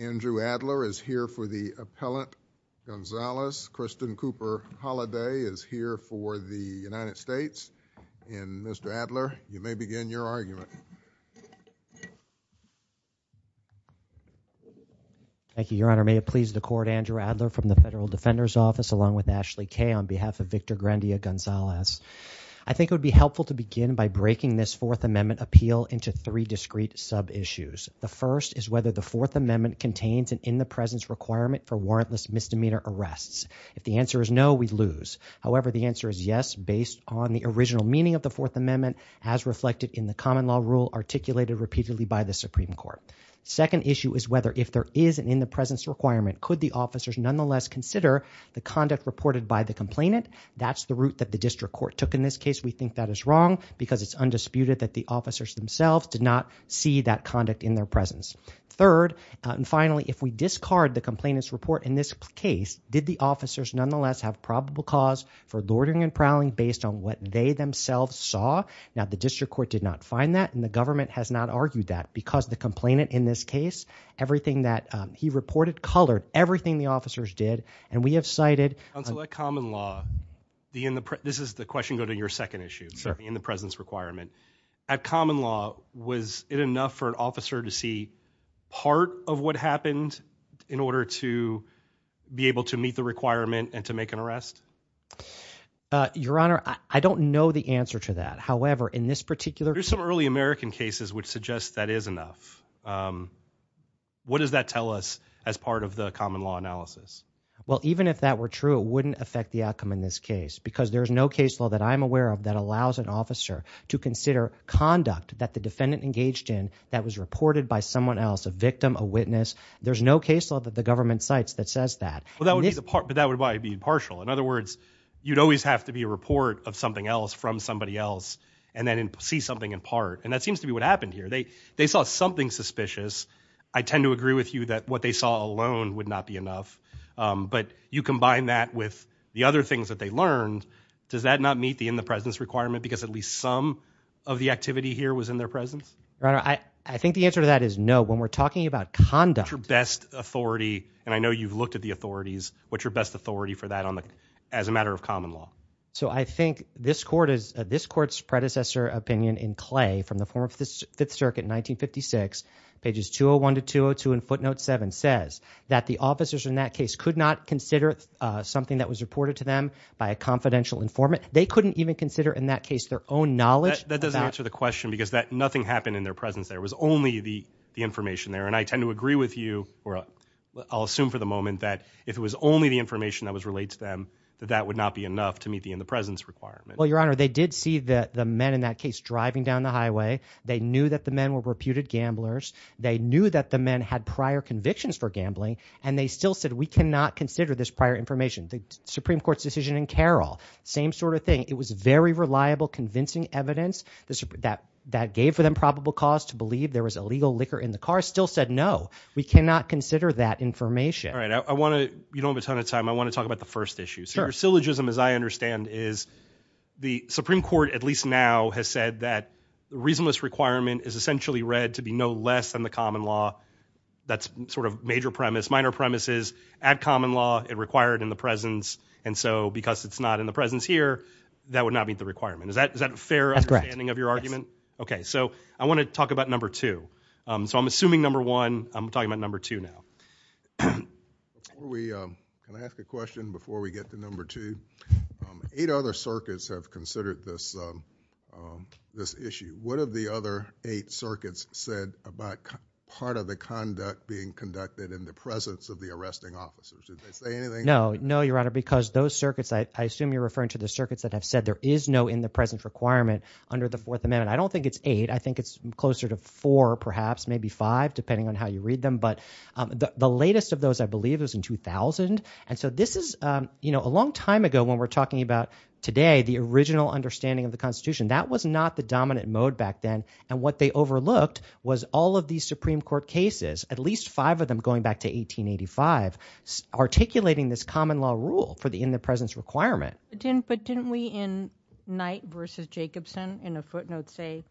Andrew Adler is here for the appellant. Gonzalez, Kristen Cooper Holliday is here for the United States. And Mr. Adler, you may begin your argument. Thank you, Your Honor. May it please the Court, Andrew Adler from the Federal Defender's Office along with Ashley Kaye on behalf of Victor Grandia Gonzalez. I think it would be helpful to begin by breaking this Fourth Amendment appeal into three things. The first is whether the Fourth Amendment contains an in-the-presence requirement for warrantless misdemeanor arrests. If the answer is no, we lose. However, the answer is yes based on the original meaning of the Fourth Amendment as reflected in the common law rule articulated repeatedly by the Supreme Court. Second issue is whether if there is an in-the-presence requirement, could the officers nonetheless consider the conduct reported by the complainant? That's the route that the district court took in this case. We think that is wrong because it's undisputed that the officers themselves did not see that conduct in their presence. Third, and finally, if we discard the complainant's report in this case, did the officers nonetheless have probable cause for loitering and prowling based on what they themselves saw? Now, the district court did not find that and the government has not argued that because the complainant in this case, everything that he reported, colored everything the officers did and we have cited... On select common law, this is the question go to your second issue, in the presence requirement. At common law, was it enough for an officer to see part of what happened in order to be able to meet the requirement and to make an arrest? Your Honor, I don't know the answer to that. However, in this particular... There's some early American cases which suggest that is enough. What does that tell us as part of the common law analysis? Well, even if that were true, it wouldn't affect the outcome in this case because there's no case law that I'm aware of that allows an officer to that was reported by someone else, a victim, a witness, there's no case law that the government cites that says that. Well, that would be the part, but that would probably be partial. In other words, you'd always have to be a report of something else from somebody else and then see something in part and that seems to be what happened here. They saw something suspicious. I tend to agree with you that what they saw alone would not be enough, but you combine that with the other things that they learned, does that not meet the in the presence requirement because at least some of the activity here was in their presence? Your I think the answer to that is no. When we're talking about conduct... What's your best authority, and I know you've looked at the authorities, what's your best authority for that on the as a matter of common law? So I think this court is, this court's predecessor opinion in Clay from the former Fifth Circuit in 1956, pages 201 to 202 in footnote 7 says that the officers in that case could not consider something that was reported to them by a confidential informant. They couldn't even consider in that case their own knowledge. That doesn't answer the presence. There was only the information there, and I tend to agree with you or I'll assume for the moment that if it was only the information that was related to them, that that would not be enough to meet the in the presence requirement. Well your honor, they did see that the men in that case driving down the highway. They knew that the men were reputed gamblers. They knew that the men had prior convictions for gambling, and they still said we cannot consider this prior information. The Supreme Court's decision in Carroll, same sort of thing. It was very reliable, convincing evidence that that gave for them probable cause to believe there was illegal liquor in the car, still said no, we cannot consider that information. All right, I want to, you don't have a ton of time, I want to talk about the first issue. So your syllogism as I understand is the Supreme Court, at least now, has said that the reasonless requirement is essentially read to be no less than the common law. That's sort of major premise, minor premises. Add common law, it required in the presence, and so because it's not in the presence here, that would not meet the requirement. Is that, is that a fair understanding of your argument? Okay, so I want to talk about number two. So I'm assuming number one, I'm talking about number two now. Can I ask a question before we get to number two? Eight other circuits have considered this, this issue. What have the other eight circuits said about part of the conduct being conducted in the presence of the arresting officers? Did they say anything? No, no, your honor, because those circuits, I assume you're referring to the under the Fourth Amendment. I don't think it's eight, I think it's closer to four perhaps, maybe five, depending on how you read them, but the latest of those I believe is in 2000, and so this is, you know, a long time ago when we're talking about today, the original understanding of the Constitution, that was not the dominant mode back then, and what they overlooked was all of these Supreme Court cases, at least five of them going back to 1885, articulating this common law rule for the in the presence requirement. But didn't we in Knight versus Jacobson in a footnote say,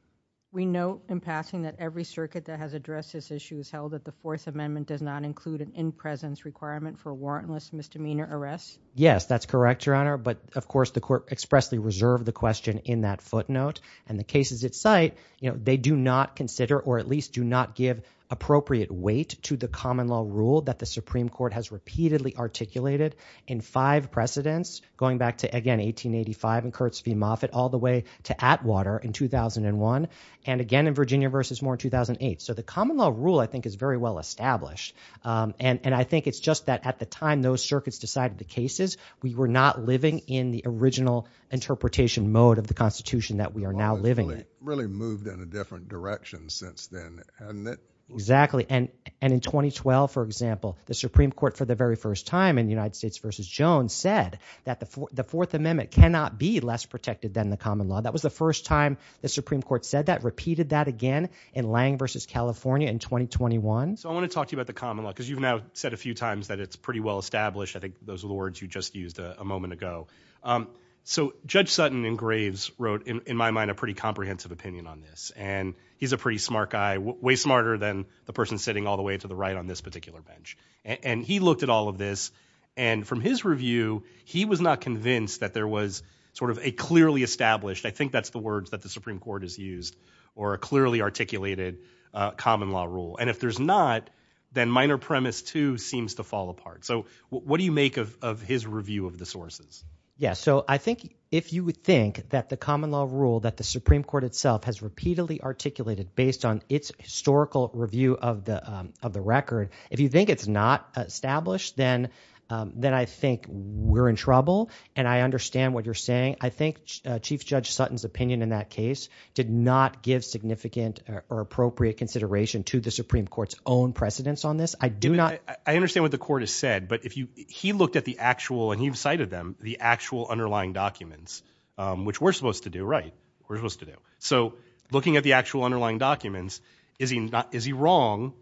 we note in passing that every circuit that has addressed this issue has held that the Fourth Amendment does not include an in-presence requirement for a warrantless misdemeanor arrest? Yes, that's correct, your honor, but of course the court expressly reserved the question in that footnote, and the cases at site, you know, they do not consider or at least do not give appropriate weight to the common law rule that the Supreme Court has repeatedly articulated in five precedents going back to, again, 1885 and all the way to Atwater in 2001, and again in Virginia versus Moore in 2008. So the common law rule, I think, is very well established, and I think it's just that at the time those circuits decided the cases, we were not living in the original interpretation mode of the Constitution that we are now living. Really moved in a different direction since then. Exactly, and in 2012, for example, the Supreme Court for the very first time in the United States versus Jones said that the common law, that was the first time the Supreme Court said that, repeated that again in Lange versus California in 2021. So I want to talk to you about the common law, because you've now said a few times that it's pretty well established. I think those are the words you just used a moment ago. So Judge Sutton in Graves wrote, in my mind, a pretty comprehensive opinion on this, and he's a pretty smart guy, way smarter than the person sitting all the way to the right on this particular bench, and he looked at all of this, and from his review, he was not convinced that there was sort of a clearly established, I think that's the words that the Supreme Court has used, or a clearly articulated common law rule, and if there's not, then minor premise two seems to fall apart. So what do you make of his review of the sources? Yeah, so I think if you would think that the common law rule that the Supreme Court itself has repeatedly articulated based on its historical review of the record, if you think it's not established, then I think we're in trouble, and I understand what you're saying. I think Chief Judge Sutton's opinion in that case did not give significant or appropriate consideration to the Supreme Court's own precedence on this. I do not... I understand what the court has said, but if you, he looked at the actual, and you've cited them, the actual underlying documents, which we're supposed to do, right? We're supposed to do. So looking at the actual underlying documents, is he wrong?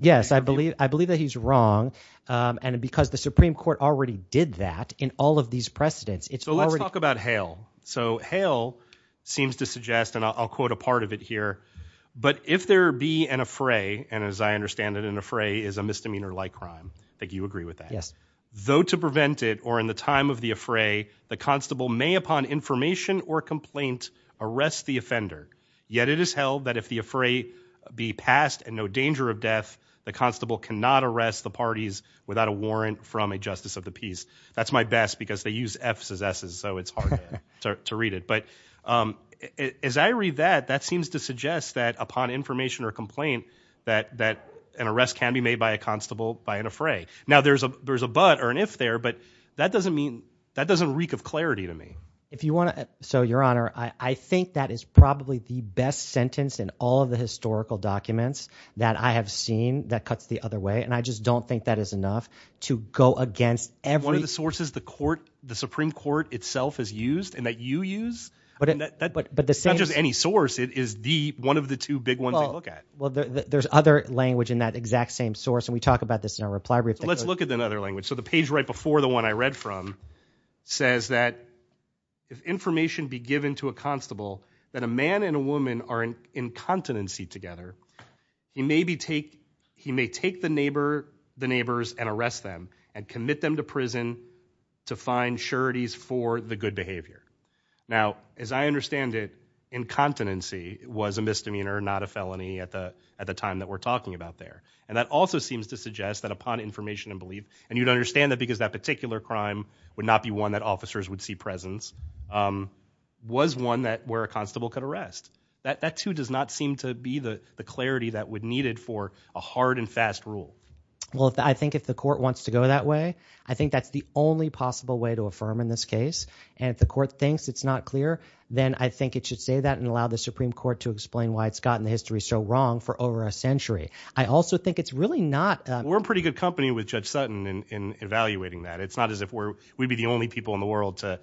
Yes, I believe that he's wrong, and because the Supreme Court already did that in all of these precedents, it's already... So let's talk about Hale. So Hale seems to suggest, and I'll quote a part of it here, but if there be an affray, and as I understand it, an affray is a misdemeanor like crime. I think you agree with that. Yes. Though to prevent it, or in the time of the affray, the constable may upon information or complaint arrest the well that if the affray be passed and no danger of death, the constable cannot arrest the parties without a warrant from a justice of the peace. That's my best, because they use F's as S's, so it's hard to read it, but as I read that, that seems to suggest that upon information or complaint, that an arrest can be made by a constable by an affray. Now there's a but or an if there, but that doesn't mean, that doesn't reek of clarity to me. If you want to, so Your sentence in all of the historical documents that I have seen, that cuts the other way, and I just don't think that is enough to go against every... One of the sources the court, the Supreme Court itself has used, and that you use, but that's not just any source, it is the, one of the two big ones they look at. Well there's other language in that exact same source, and we talk about this in our reply brief. Let's look at another language. So the page right before the one I read from, says that if information be given to a constable, that a man and a constable are in incontinency together, he maybe take, he may take the neighbor, the neighbors, and arrest them, and commit them to prison to find sureties for the good behavior. Now as I understand it, incontinency was a misdemeanor, not a felony at the, at the time that we're talking about there, and that also seems to suggest that upon information and belief, and you'd understand that because that particular crime would not be one that officers would see presence, was one that where a constable could arrest. That that too does not seem to be the clarity that would needed for a hard and fast rule. Well if I think if the court wants to go that way, I think that's the only possible way to affirm in this case, and if the court thinks it's not clear, then I think it should say that and allow the Supreme Court to explain why it's gotten the history so wrong for over a century. I also think it's really not. We're pretty good company with Judge Sutton in evaluating that. It's not as if we're, we'd be the only people in the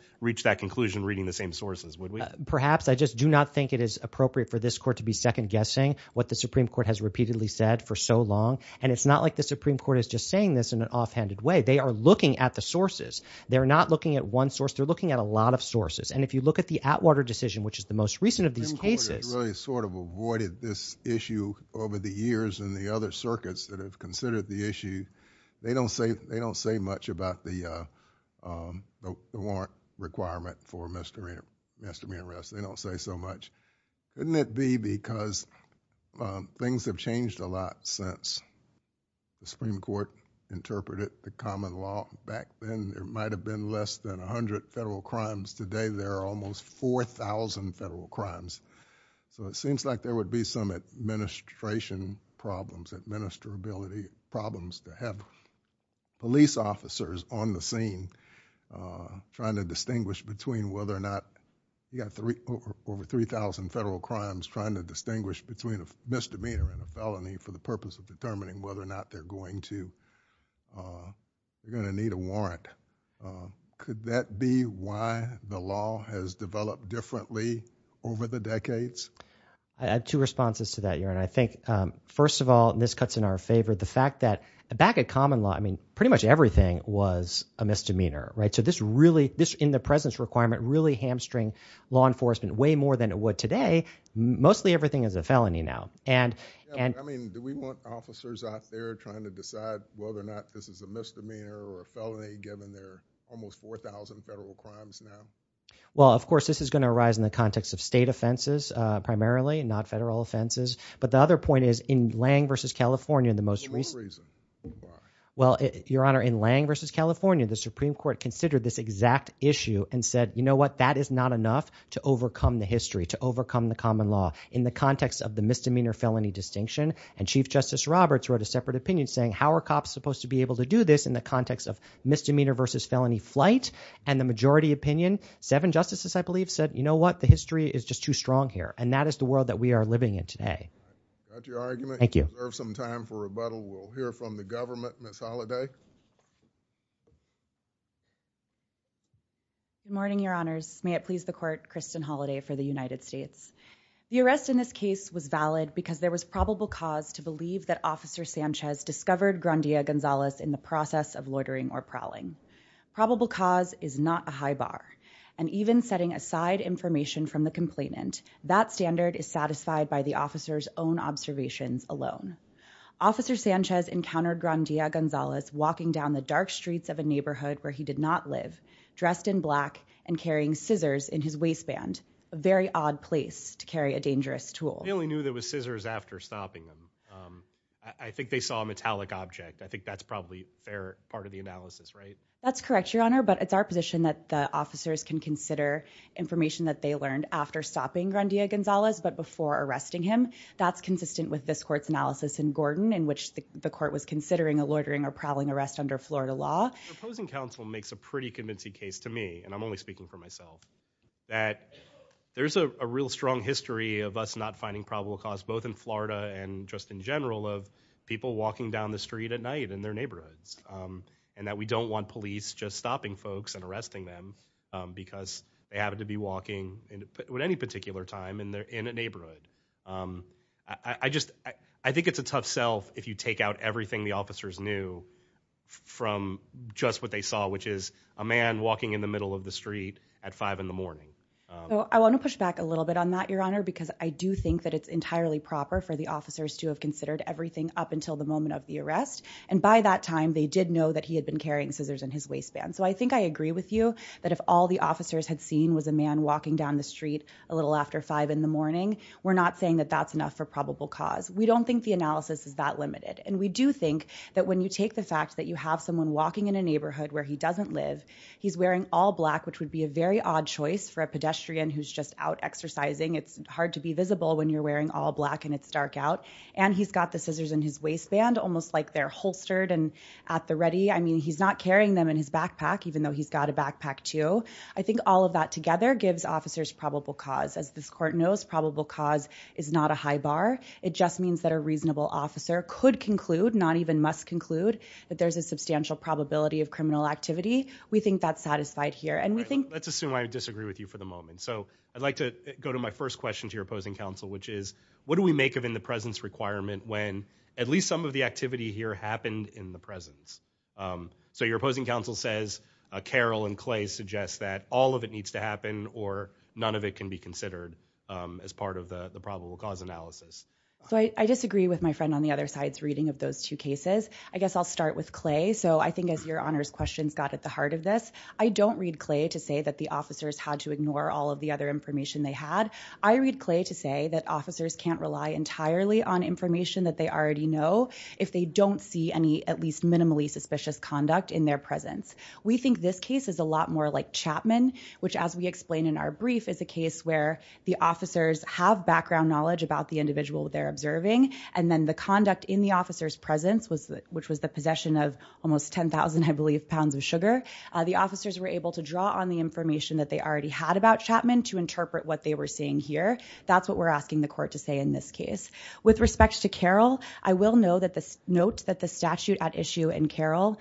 Perhaps I just do not think it is appropriate for this court to be second-guessing what the Supreme Court has repeatedly said for so long, and it's not like the Supreme Court is just saying this in an offhanded way. They are looking at the sources. They're not looking at one source. They're looking at a lot of sources, and if you look at the Atwater decision, which is the most recent of these cases. The Supreme Court has really sort of avoided this issue over the years and the other circuits that have considered the issue. They don't say, they don't say much about the warrant requirement for misdemeanor arrest. They don't say so much. Couldn't it be because things have changed a lot since the Supreme Court interpreted the common law? Back then, there might have been less than a hundred federal crimes. Today, there are almost 4,000 federal crimes, so it seems like there would be some administration problems, administrability problems to have police officers on the scene trying to distinguish between whether or not, you got over 3,000 federal crimes trying to distinguish between a misdemeanor and a felony for the purpose of determining whether or not they're going to, they're going to need a warrant. Could that be why the law has developed differently over the decades? I have two responses to that, Your Honor. I think first of all, and this cuts in our favor, the fact that back at common law, I mean, pretty much everything was a misdemeanor, right? So this really, this in the presence requirement, really hamstring law enforcement way more than it would today. Mostly everything is a felony now. I mean, do we want officers out there trying to decide whether or not this is a misdemeanor or a felony given there are almost 4,000 federal crimes now? Well, of course, this is going to arise in the context of state offenses primarily, not Lang v. California, the most recent. Well, Your Honor, in Lang v. California, the Supreme Court considered this exact issue and said, you know what, that is not enough to overcome the history, to overcome the common law. In the context of the misdemeanor felony distinction, and Chief Justice Roberts wrote a separate opinion saying, how are cops supposed to be able to do this in the context of misdemeanor v. felony flight? And the majority opinion, seven justices, I believe, said, you know what, the history is just too strong here. And that is the world that we are living in We'll reserve some time for rebuttal. We'll hear from the government. Ms. Holliday? Good morning, Your Honors. May it please the Court, Kristen Holliday for the United States. The arrest in this case was valid because there was probable cause to believe that Officer Sanchez discovered Grandia Gonzalez in the process of loitering or prowling. Probable cause is not a high bar, and even setting aside information from the complainant, that standard is satisfied by the officer's own observations alone. Officer Sanchez encountered Grandia Gonzalez walking down the dark streets of a neighborhood where he did not live, dressed in black and carrying scissors in his waistband. A very odd place to carry a dangerous tool. He only knew there was scissors after stopping them. Um, I think they saw a metallic object. I think that's probably fair part of the analysis, right? That's correct, Your Honor. But it's our position that the officers can consider information that they learned after stopping Grandia Gonzalez, but before arresting him. That's consistent with this court's analysis in Gordon, in which the court was considering a loitering or prowling arrest under Florida law. The opposing counsel makes a pretty convincing case to me, and I'm only speaking for myself, that there's a real strong history of us not finding probable cause, both in Florida and just in general, of people walking down the street at night in their neighborhoods. Um, and that we don't want police just stopping folks and arresting them because they happen to be walking at any particular time and they're in a neighborhood. Um, I just I think it's a tough self if you take out everything the officers knew from just what they saw, which is a man walking in the middle of the street at five in the morning. I want to push back a little bit on that, Your Honor, because I do think that it's entirely proper for the officers to have considered everything up until the moment of the arrest. And by that time, they did know that he had been carrying scissors in his waistband. So I think I agree with you that if all the officers had seen was a man walking down the street a little after five in the morning, we're not saying that that's enough for probable cause. We don't think the analysis is that limited. And we do think that when you take the fact that you have someone walking in a neighborhood where he doesn't live, he's wearing all black, which would be a very odd choice for a pedestrian who's just out exercising. It's hard to be visible when you're wearing all black and it's dark out, and he's got the scissors in his waistband, almost like they're holstered and at the ready. I mean, he's not wearing them in his backpack, even though he's got a backpack, too. I think all of that together gives officers probable cause. As this court knows, probable cause is not a high bar. It just means that a reasonable officer could conclude, not even must conclude, that there's a substantial probability of criminal activity. We think that's satisfied here, and we think let's assume I disagree with you for the moment. So I'd like to go to my first question to your opposing counsel, which is what do we make of in the presence requirement when at least some of the activity here happened in the presence? So your opposing counsel says Carroll and Clay suggest that all of it needs to happen or none of it can be considered as part of the probable cause analysis. So I disagree with my friend on the other side's reading of those two cases. I guess I'll start with Clay. So I think as your Honor's questions got at the heart of this, I don't read Clay to say that the officers had to ignore all of the other information they had. I read Clay to say that officers can't rely entirely on information that they already know if they don't see any, at least, minimally suspicious conduct in their presence. We think this case is a lot more like Chapman, which as we explained in our brief, is a case where the officers have background knowledge about the individual they're observing, and then the conduct in the officer's presence, which was the possession of almost 10,000, I believe, pounds of sugar. The officers were able to draw on the information that they already had about Chapman to interpret what they were seeing here. That's what we're asking the court to say in this case. With note that the statute at issue in Carroll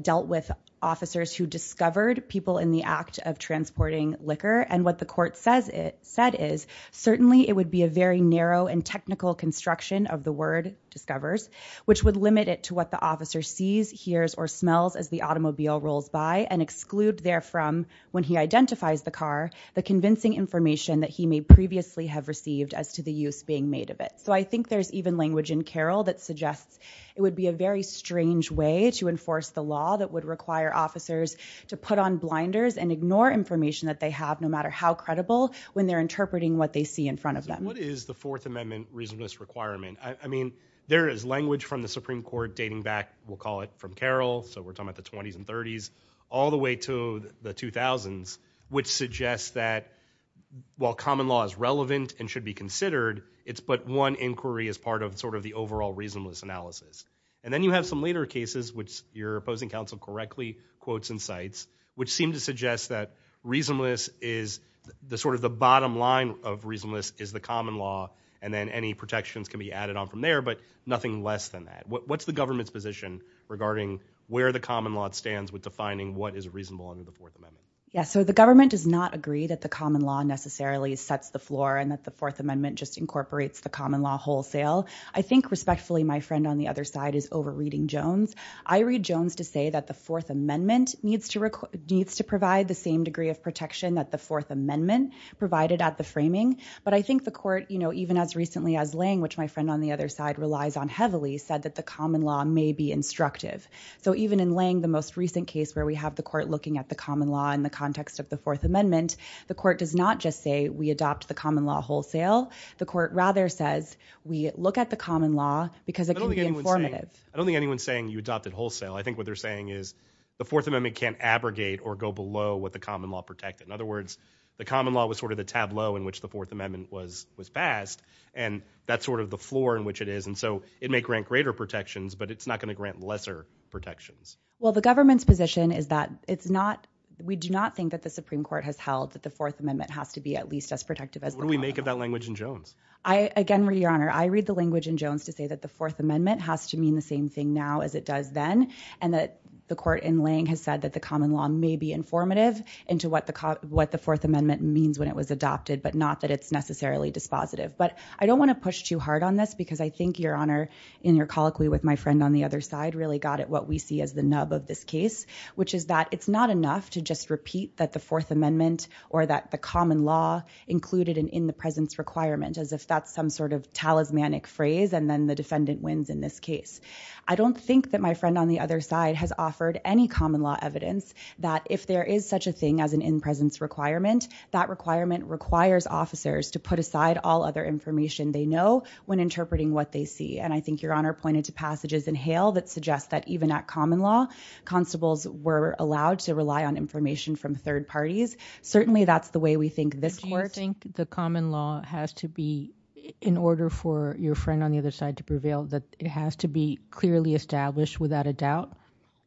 dealt with officers who discovered people in the act of transporting liquor, and what the court said is certainly it would be a very narrow and technical construction of the word discovers, which would limit it to what the officer sees, hears, or smells as the automobile rolls by, and exclude therefrom, when he identifies the car, the convincing information that he may previously have received as to the use being made of it. So I think there's even language in the statute that suggests it would be a very strange way to enforce the law that would require officers to put on blinders and ignore information that they have, no matter how credible, when they're interpreting what they see in front of them. What is the Fourth Amendment reasonableness requirement? I mean, there is language from the Supreme Court dating back, we'll call it from Carroll, so we're talking about the 20s and 30s, all the way to the 2000s, which suggests that while common law is relevant and should be considered, it's one inquiry as part of sort of the overall reasonableness analysis. And then you have some later cases, which your opposing counsel correctly quotes and cites, which seem to suggest that reasonableness is the sort of the bottom line of reasonableness is the common law, and then any protections can be added on from there, but nothing less than that. What's the government's position regarding where the common law stands with defining what is reasonable under the Fourth Amendment? Yes, so the government does not agree that the common law necessarily sets the floor and that the Fourth Amendment just sets the common law wholesale. I think, respectfully, my friend on the other side is over-reading Jones. I read Jones to say that the Fourth Amendment needs to provide the same degree of protection that the Fourth Amendment provided at the framing, but I think the court, you know, even as recently as Lange, which my friend on the other side relies on heavily, said that the common law may be instructive. So even in Lange, the most recent case where we have the court looking at the common law in the context of the Fourth Amendment, the court does not just say we adopt the common law wholesale. The court rather says we look at the common law because it can be informative. I don't think anyone's saying you adopt it wholesale. I think what they're saying is the Fourth Amendment can't abrogate or go below what the common law protected. In other words, the common law was sort of the tableau in which the Fourth Amendment was passed, and that's sort of the floor in which it is, and so it may grant greater protections, but it's not going to grant lesser protections. Well, the government's position is that we do not think that the Supreme Court What do we make of that language in Jones? I, again, Your Honor, I read the language in Jones to say that the Fourth Amendment has to mean the same thing now as it does then, and that the court in Lange has said that the common law may be informative into what the Fourth Amendment means when it was adopted, but not that it's necessarily dispositive, but I don't want to push too hard on this because I think, Your Honor, in your colloquy with my friend on the other side, really got at what we see as the nub of this case, which is that it's not enough to just repeat that the Fourth Amendment or that the common law included an in-the-presence requirement, as if that's some sort of talismanic phrase, and then the defendant wins in this case. I don't think that my friend on the other side has offered any common law evidence that if there is such a thing as an in-presence requirement, that requirement requires officers to put aside all other information they know when interpreting what they see, and I think Your Honor pointed to passages in Hale that suggest that even at common law, constables were allowed to rely on information from this court. Do you think the common law has to be, in order for your friend on the other side to prevail, that it has to be clearly established without a doubt,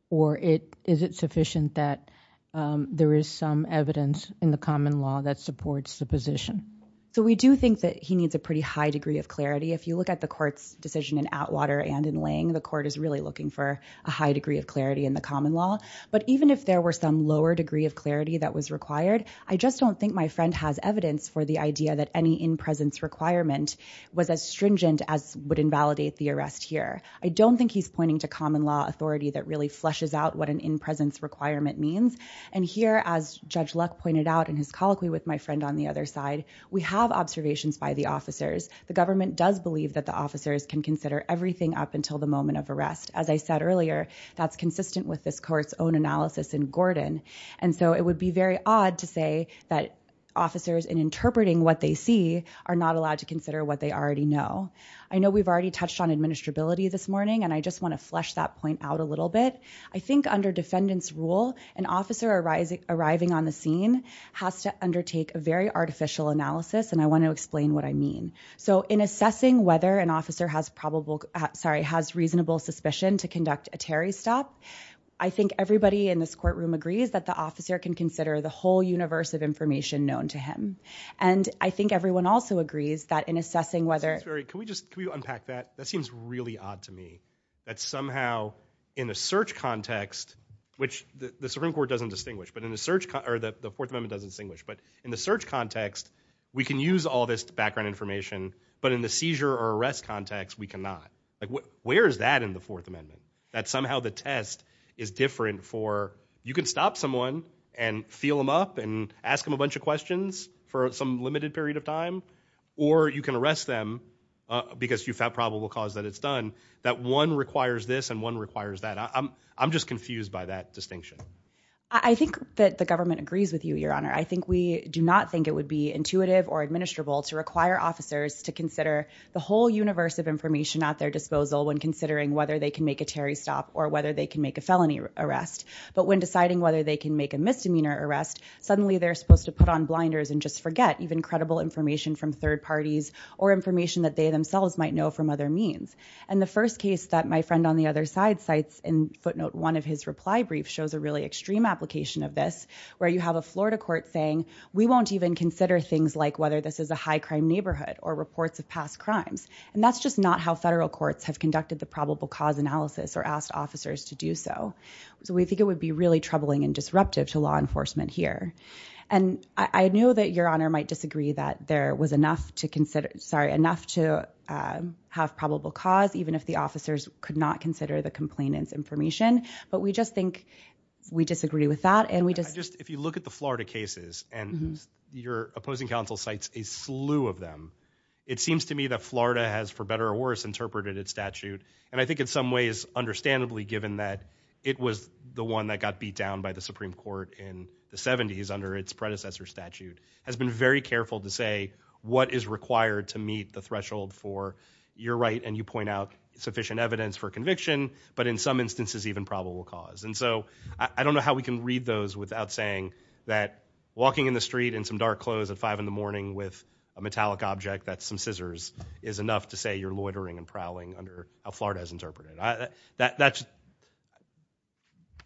or is it sufficient that there is some evidence in the common law that supports the position? So we do think that he needs a pretty high degree of clarity. If you look at the court's decision in Atwater and in Lang, the court is really looking for a high degree of clarity in the common law, but even if there were some lower degree of clarity that was required, I just don't think my friend has evidence for the idea that any in-presence requirement was as stringent as would invalidate the arrest here. I don't think he's pointing to common law authority that really flushes out what an in-presence requirement means, and here, as Judge Luck pointed out in his colloquy with my friend on the other side, we have observations by the officers. The government does believe that the officers can consider everything up until the moment of arrest. As I said earlier, that's consistent with this court's own analysis in Gordon, and so it would be very odd to say that officers in interpreting what they see are not allowed to consider what they already know. I know we've already touched on administrability this morning, and I just want to flesh that point out a little bit. I think under defendant's rule, an officer arriving on the scene has to undertake a very artificial analysis, and I want to explain what I mean. So in assessing whether an officer has reasonable suspicion to conduct a Terry stop, I think everybody in this courtroom agrees that the officer can consider the whole universe of information known to him, and I think everyone also agrees that in assessing whether... Can we just unpack that? That seems really odd to me, that somehow in the search context, which the Supreme Court doesn't distinguish, but in the search, or the Fourth Amendment doesn't distinguish, but in the search context, we can use all this background information, but in the seizure or arrest context, we cannot. Like, where is that in the Fourth Amendment? That somehow the test is different for... You can stop someone and feel them up and ask them a bunch of questions for some limited period of time, or you can arrest them because you've had probable cause that it's done. That one requires this and one requires that. I'm just confused by that distinction. I think that the government agrees with you, Your Honor. I think we do not think it would be intuitive or at their disposal when considering whether they can make a Terry stop or whether they can make a felony arrest, but when deciding whether they can make a misdemeanor arrest, suddenly they're supposed to put on blinders and just forget even credible information from third parties or information that they themselves might know from other means, and the first case that my friend on the other side cites in footnote one of his reply brief shows a really extreme application of this, where you have a Florida court saying, we won't even consider things like whether this is a high-crime neighborhood or reports of past crimes, and that's just not how federal courts have conducted the probable cause analysis or asked officers to do so. So we think it would be really troubling and disruptive to law enforcement here, and I knew that Your Honor might disagree that there was enough to consider, sorry, enough to have probable cause even if the officers could not consider the complainant's information, but we just think we disagree with that and we just... If you look at the Florida cases and your opposing counsel cites a slew of them, it seems to me that Florida has, for better or worse, interpreted its statute, and I think in some ways, understandably, given that it was the one that got beat down by the Supreme Court in the 70s under its predecessor statute, has been very careful to say what is required to meet the threshold for, you're right and you point out sufficient evidence for conviction, but in some instances even probable cause. And so I don't know how we can read those without saying that walking in the street in some dark clothes at 5 in the morning with a bunch of officers is enough to say you're loitering and prowling under how Florida has interpreted it.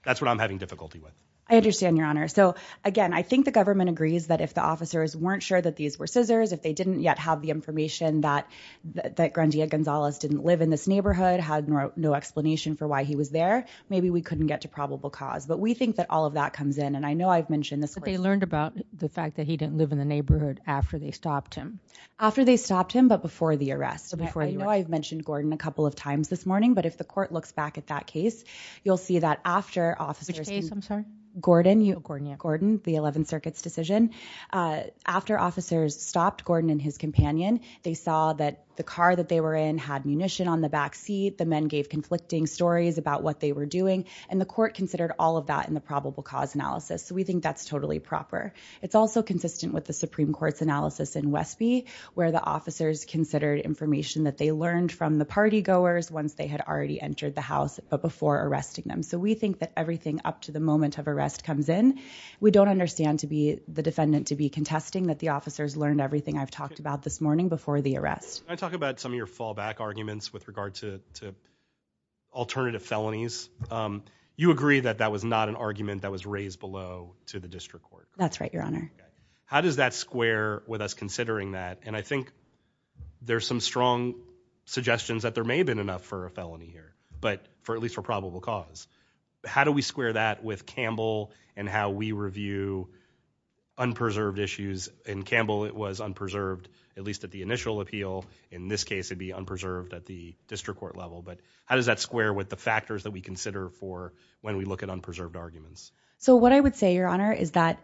That's what I'm having difficulty with. I understand, Your Honor. So again, I think the government agrees that if the officers weren't sure that these were scissors, if they didn't yet have the information that Grandia Gonzalez didn't live in this neighborhood, had no explanation for why he was there, maybe we couldn't get to probable cause. But we think that all of that comes in, and I know I've mentioned this. But they learned about the fact that he didn't live in the neighborhood after they stopped him. After they stopped him, but before the arrest. I know I've mentioned Gordon a couple of times this morning, but if the court looks back at that case, you'll see that after officers... Which case, I'm sorry? Gordon. Gordon, yeah. Gordon, the 11th Circuit's decision. After officers stopped Gordon and his companion, they saw that the car that they were in had munition on the backseat, the men gave conflicting stories about what they were doing, and the court considered all of that in the probable cause analysis. So we think that's totally proper. It's also consistent with the Supreme Court's analysis in Westby, where the officers considered information that they learned from the partygoers once they had already entered the house, but before arresting them. So we think that everything up to the moment of arrest comes in. We don't understand, to be the defendant, to be contesting that the officers learned everything I've talked about this morning before the arrest. Can I talk about some of your fallback arguments with regard to alternative felonies? You agree that that was not an argument that was raised below to the district court. That's right, Your Honor. How does that square with us considering that, and I think there's some strong suggestions that there may have been enough for a felony here, but for at least for probable cause. How do we square that with Campbell and how we review unpreserved issues? In Campbell, it was unpreserved, at least at the initial appeal. In this case, it'd be unpreserved at the district court level, but how does that square with the factors that we consider for when we look at unpreserved arguments? So what I would say, Your Honor, is that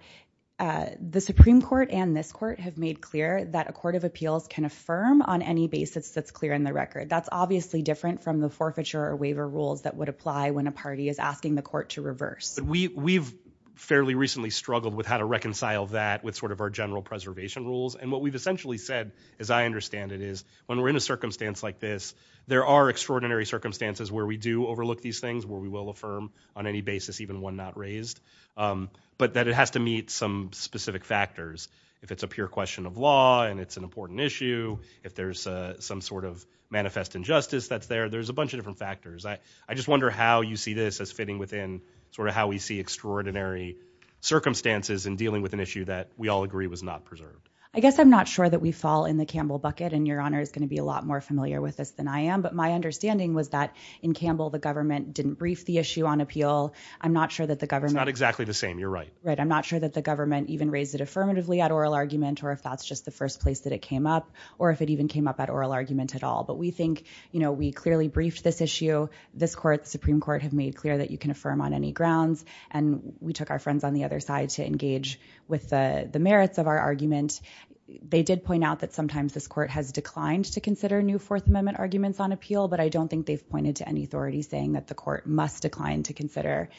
the Supreme Court and this court have made clear that a court of appeals can affirm on any basis that's clear in the record. That's obviously different from the forfeiture or waiver rules that would apply when a party is asking the court to reverse. We've fairly recently struggled with how to reconcile that with sort of our general preservation rules, and what we've essentially said, as I understand it, is when we're in a circumstance like this, there are extraordinary circumstances where we do overlook these things, where we will affirm on any basis even one not raised, but that it has to meet some specific factors. If it's a pure question of law and it's an important issue, if there's some sort of manifest injustice that's there, there's a bunch of different factors. I just wonder how you see this as fitting within sort of how we see extraordinary circumstances in dealing with an issue that we all agree was not preserved. I guess I'm not sure that we fall in the I am, but my understanding was that in Campbell, the government didn't brief the issue on appeal. I'm not sure that the government... It's not exactly the same, you're right. Right, I'm not sure that the government even raised it affirmatively at oral argument, or if that's just the first place that it came up, or if it even came up at oral argument at all, but we think, you know, we clearly briefed this issue. This court, the Supreme Court, have made clear that you can affirm on any grounds, and we took our friends on the other side to engage with the merits of our argument. They did point out that sometimes this argument's on appeal, but I don't think they've pointed to any authority saying that the court must decline to consider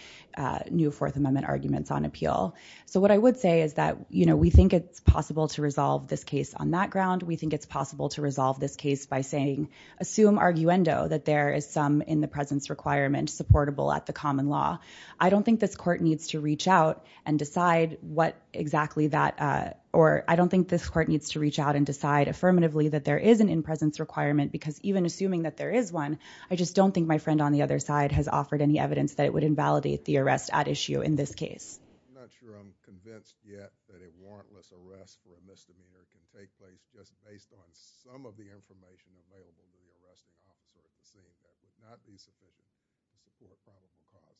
new Fourth Amendment arguments on appeal. So what I would say is that, you know, we think it's possible to resolve this case on that ground. We think it's possible to resolve this case by saying, assume arguendo that there is some in the presence requirement supportable at the common law. I don't think this court needs to reach out and decide what exactly that... Or I don't think this court needs to reach out and decide affirmatively that there is an in-presence requirement, because even assuming that there is one, I just don't think my friend on the other side has offered any evidence that it would invalidate the arrest at issue in this case. I'm not sure I'm convinced yet that a warrantless arrest for a misdemeanor can take place just based on some of the information available in the arrest documents that we're receiving that would not be sufficient evidence to prove a crime of the crime.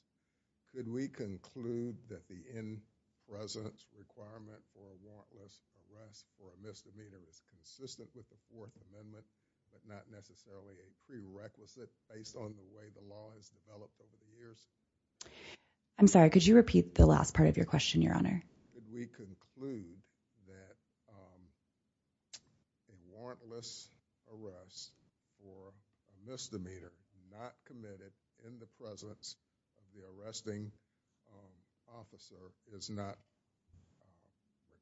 Could we conclude that the in-presence requirement for a warrantless arrest for a misdemeanor is consistent with the Fourth Amendment, but not necessarily a prerequisite based on the way the law has developed over the years? I'm sorry, could you repeat the last part of your question, Your Honor? Could we conclude that a warrantless arrest for a misdemeanor not committed in the presence of the arresting officer is not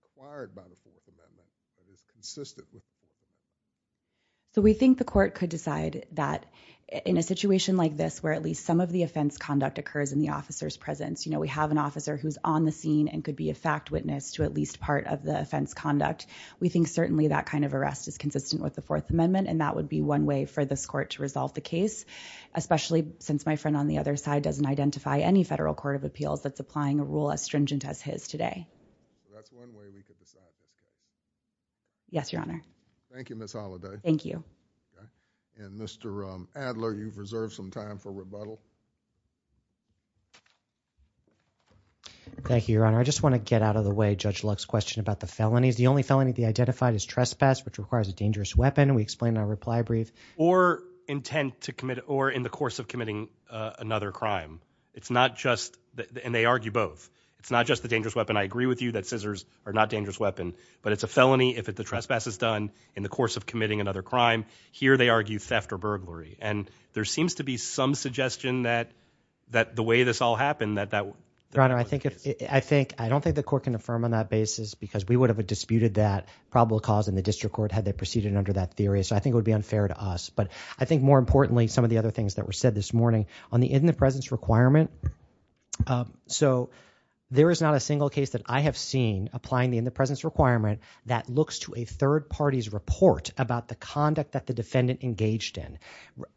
required by the Fourth Amendment, but is consistent with the Fourth Amendment? So we think the court could decide that in a situation like this where at least some of the offense conduct occurs in the officer's presence, you know, we have an officer who's on the scene and could be a fact witness to at least part of the offense conduct, we think certainly that kind of arrest is consistent with the Fourth Amendment, and that would be one way for this court to resolve the case, especially since my friend on the other side doesn't identify any federal court of appeals that's applying a rule as stringent as his today. That's one way we could decide. Yes, Your Honor. Thank you, Ms. Holliday. Thank you. And Mr. Adler, you've reserved some time for rebuttal. Thank you, Your Honor. I just want to get out of the way Judge Luck's question about the felonies. The only felony they identified is trespass, which requires a dangerous weapon. We explained in our reply brief. Or intent to commit, or in the course of committing another crime. It's not just, and they argue both, it's not just the dangerous weapon. I agree with you that scissors are not a dangerous weapon, but it's a felony if the trespass is done in the course of committing another crime. Here they argue theft or burglary. And there seems to be some suggestion that the way this all happened that that was the case. Your Honor, I don't think the court can affirm on that basis because we would have disputed that probable cause in the district court had they proceeded under that theory. So I think it would be unfair to us. But I think more importantly, some of the other things that were said this morning, on the in the presence requirement, so there is not a single case that I have seen applying the in the presence requirement that looks to a third party's report about the conduct that the defendant engaged in.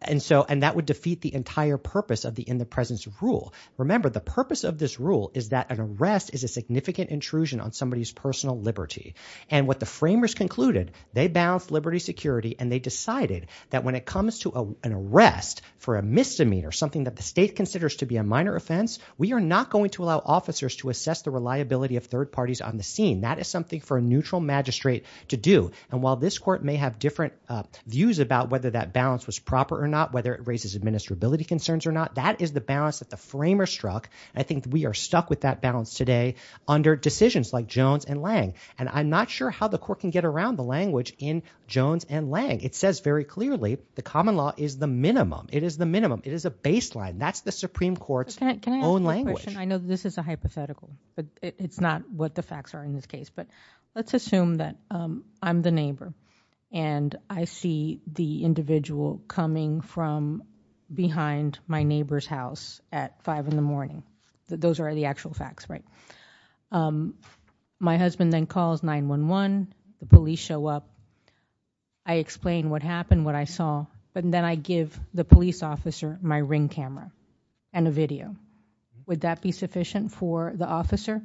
And so, and that would defeat the entire purpose of the in the presence rule. Remember, the purpose of this rule is that an arrest is a significant intrusion on somebody's personal liberty. And what the framers concluded, they balanced liberty, security, and they decided that when it comes to an arrest for a misdemeanor, something that the state considers to be a minor offense, we are not going to allow officers to assess the reliability of third parties on the scene. That is something for a neutral magistrate to do. And while this court may have different views about whether that balance was proper or not, whether it raises administrability concerns or not, that is the balance that the framers struck. I think we are stuck with that balance today under decisions like Jones and Lang. And I'm not sure how the court can get around the language in Jones and Lang. It says very clearly the common law is the minimum. It is the minimum. It is a baseline. That's the Supreme Court's own language. Can I ask a question? I know this is a hypothetical, but it's not what the facts are in this case. But let's assume that I'm the neighbor and I see the individual coming from behind my neighbor's house at 5 in the morning. Those are the actual facts, right? My husband then calls 911. The police show up. I explain what happened, what I saw. But then I give the police officer my ring camera and a video. Would that be sufficient for the officer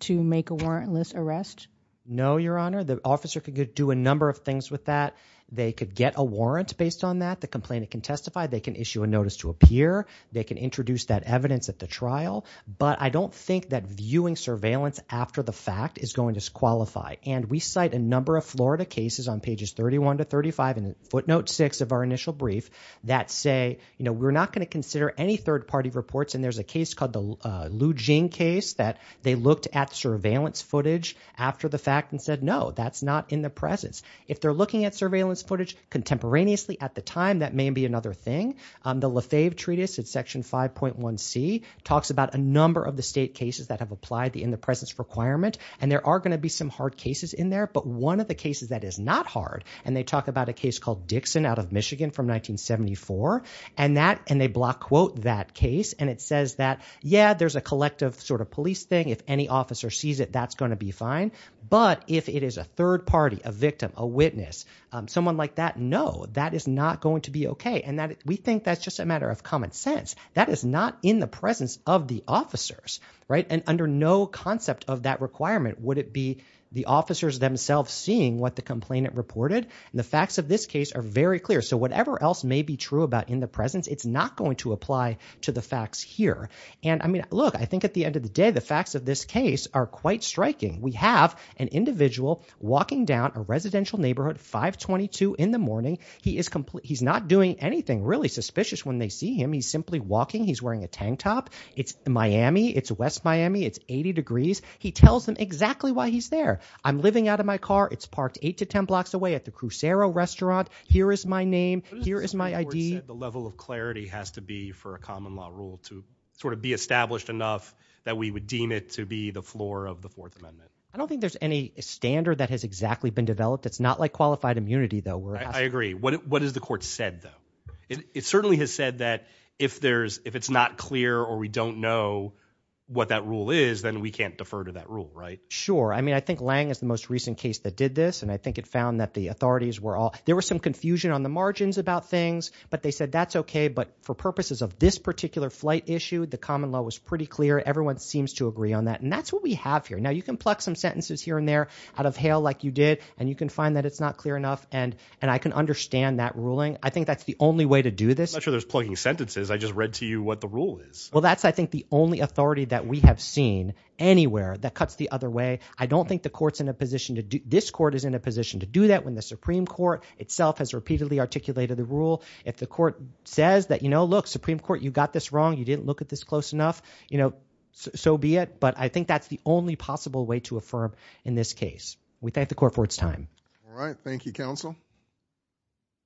to make a warrantless arrest? No, Your Honor. The officer could do a number of things with that. They could get a warrant based on that. The complainant can testify. They can issue a notice to appear. They can introduce that evidence at the trial. But I don't think that viewing surveillance after the fact is going to qualify. And we cite a number of Florida cases on pages 31 to 35 and footnote 6 of our initial brief that say, you know, we're not going to consider any third-party reports. And there's a case called the Lu Jing case that they looked at surveillance footage after the fact and said, no, that's not in the presence. If they're looking at surveillance footage contemporaneously at the time, that may be another thing. The Lefebvre Treatise at Section 5.1c talks about a number of the state cases that have applied the in-the-presence requirement. And there are going to be some hard cases in there. But one of the cases that is not hard, and they talk about a case called Dixon out of Michigan from 1974. And they block quote that case. And it says that, yeah, there's a collective sort of police thing. If any officer sees it, that's going to be fine. But if it is a third party, a victim, a witness, someone like that, no, that is not going to be okay. And we think that's just a matter of common sense. That is not in the presence of the officers. Right? And under no concept of that requirement, would it be the officers themselves seeing what the complainant reported? And the facts of this case are very clear. So whatever else may be true about in the presence, it's not going to apply to the facts here. And, I mean, look, I think at the end of the day, the facts of this case are quite striking. We have an individual walking down a residential neighborhood, 522 in the morning. He is not doing anything really suspicious when they see him. He's simply walking. He's wearing a tank top. It's Miami. It's West Miami. It's 80 degrees. He tells them exactly why he's there. I'm living out of my car. It's parked 8 to 10 blocks away at the Crucero restaurant. Here is my name. Here is my ID. The level of clarity has to be for a common law rule to sort of be established enough that we would deem it to be the floor of the Fourth Amendment. I don't think there's any standard that has exactly been developed. It's not like qualified immunity, though. I agree. What has the court said, though? It certainly has said that if it's not clear or we don't know what that rule is, then we can't defer to that rule, right? Sure. I mean, I think Lange is the most recent case that did this, and I think it found that the authorities were all – there was some confusion on the margins about things, but they said that's okay. But for purposes of this particular flight issue, the common law was pretty clear. Everyone seems to agree on that, and that's what we have here. Now, you can pluck some sentences here and there out of hail like you did, and you can find that it's not clear enough, and I can understand that ruling. I think that's the only way to do this. I'm not sure there's plucking sentences. I just read to you what the rule is. Well, that's, I think, the only authority that we have seen anywhere that cuts the other way. I don't think the court's in a position to – this court is in a position to do that when the Supreme Court itself has repeatedly articulated the rule. If the court says that, look, Supreme Court, you got this wrong. You didn't look at this close enough, so be it. But I think that's the only possible way to affirm in this case. We thank the court for its time. All right. Thank you, counsel.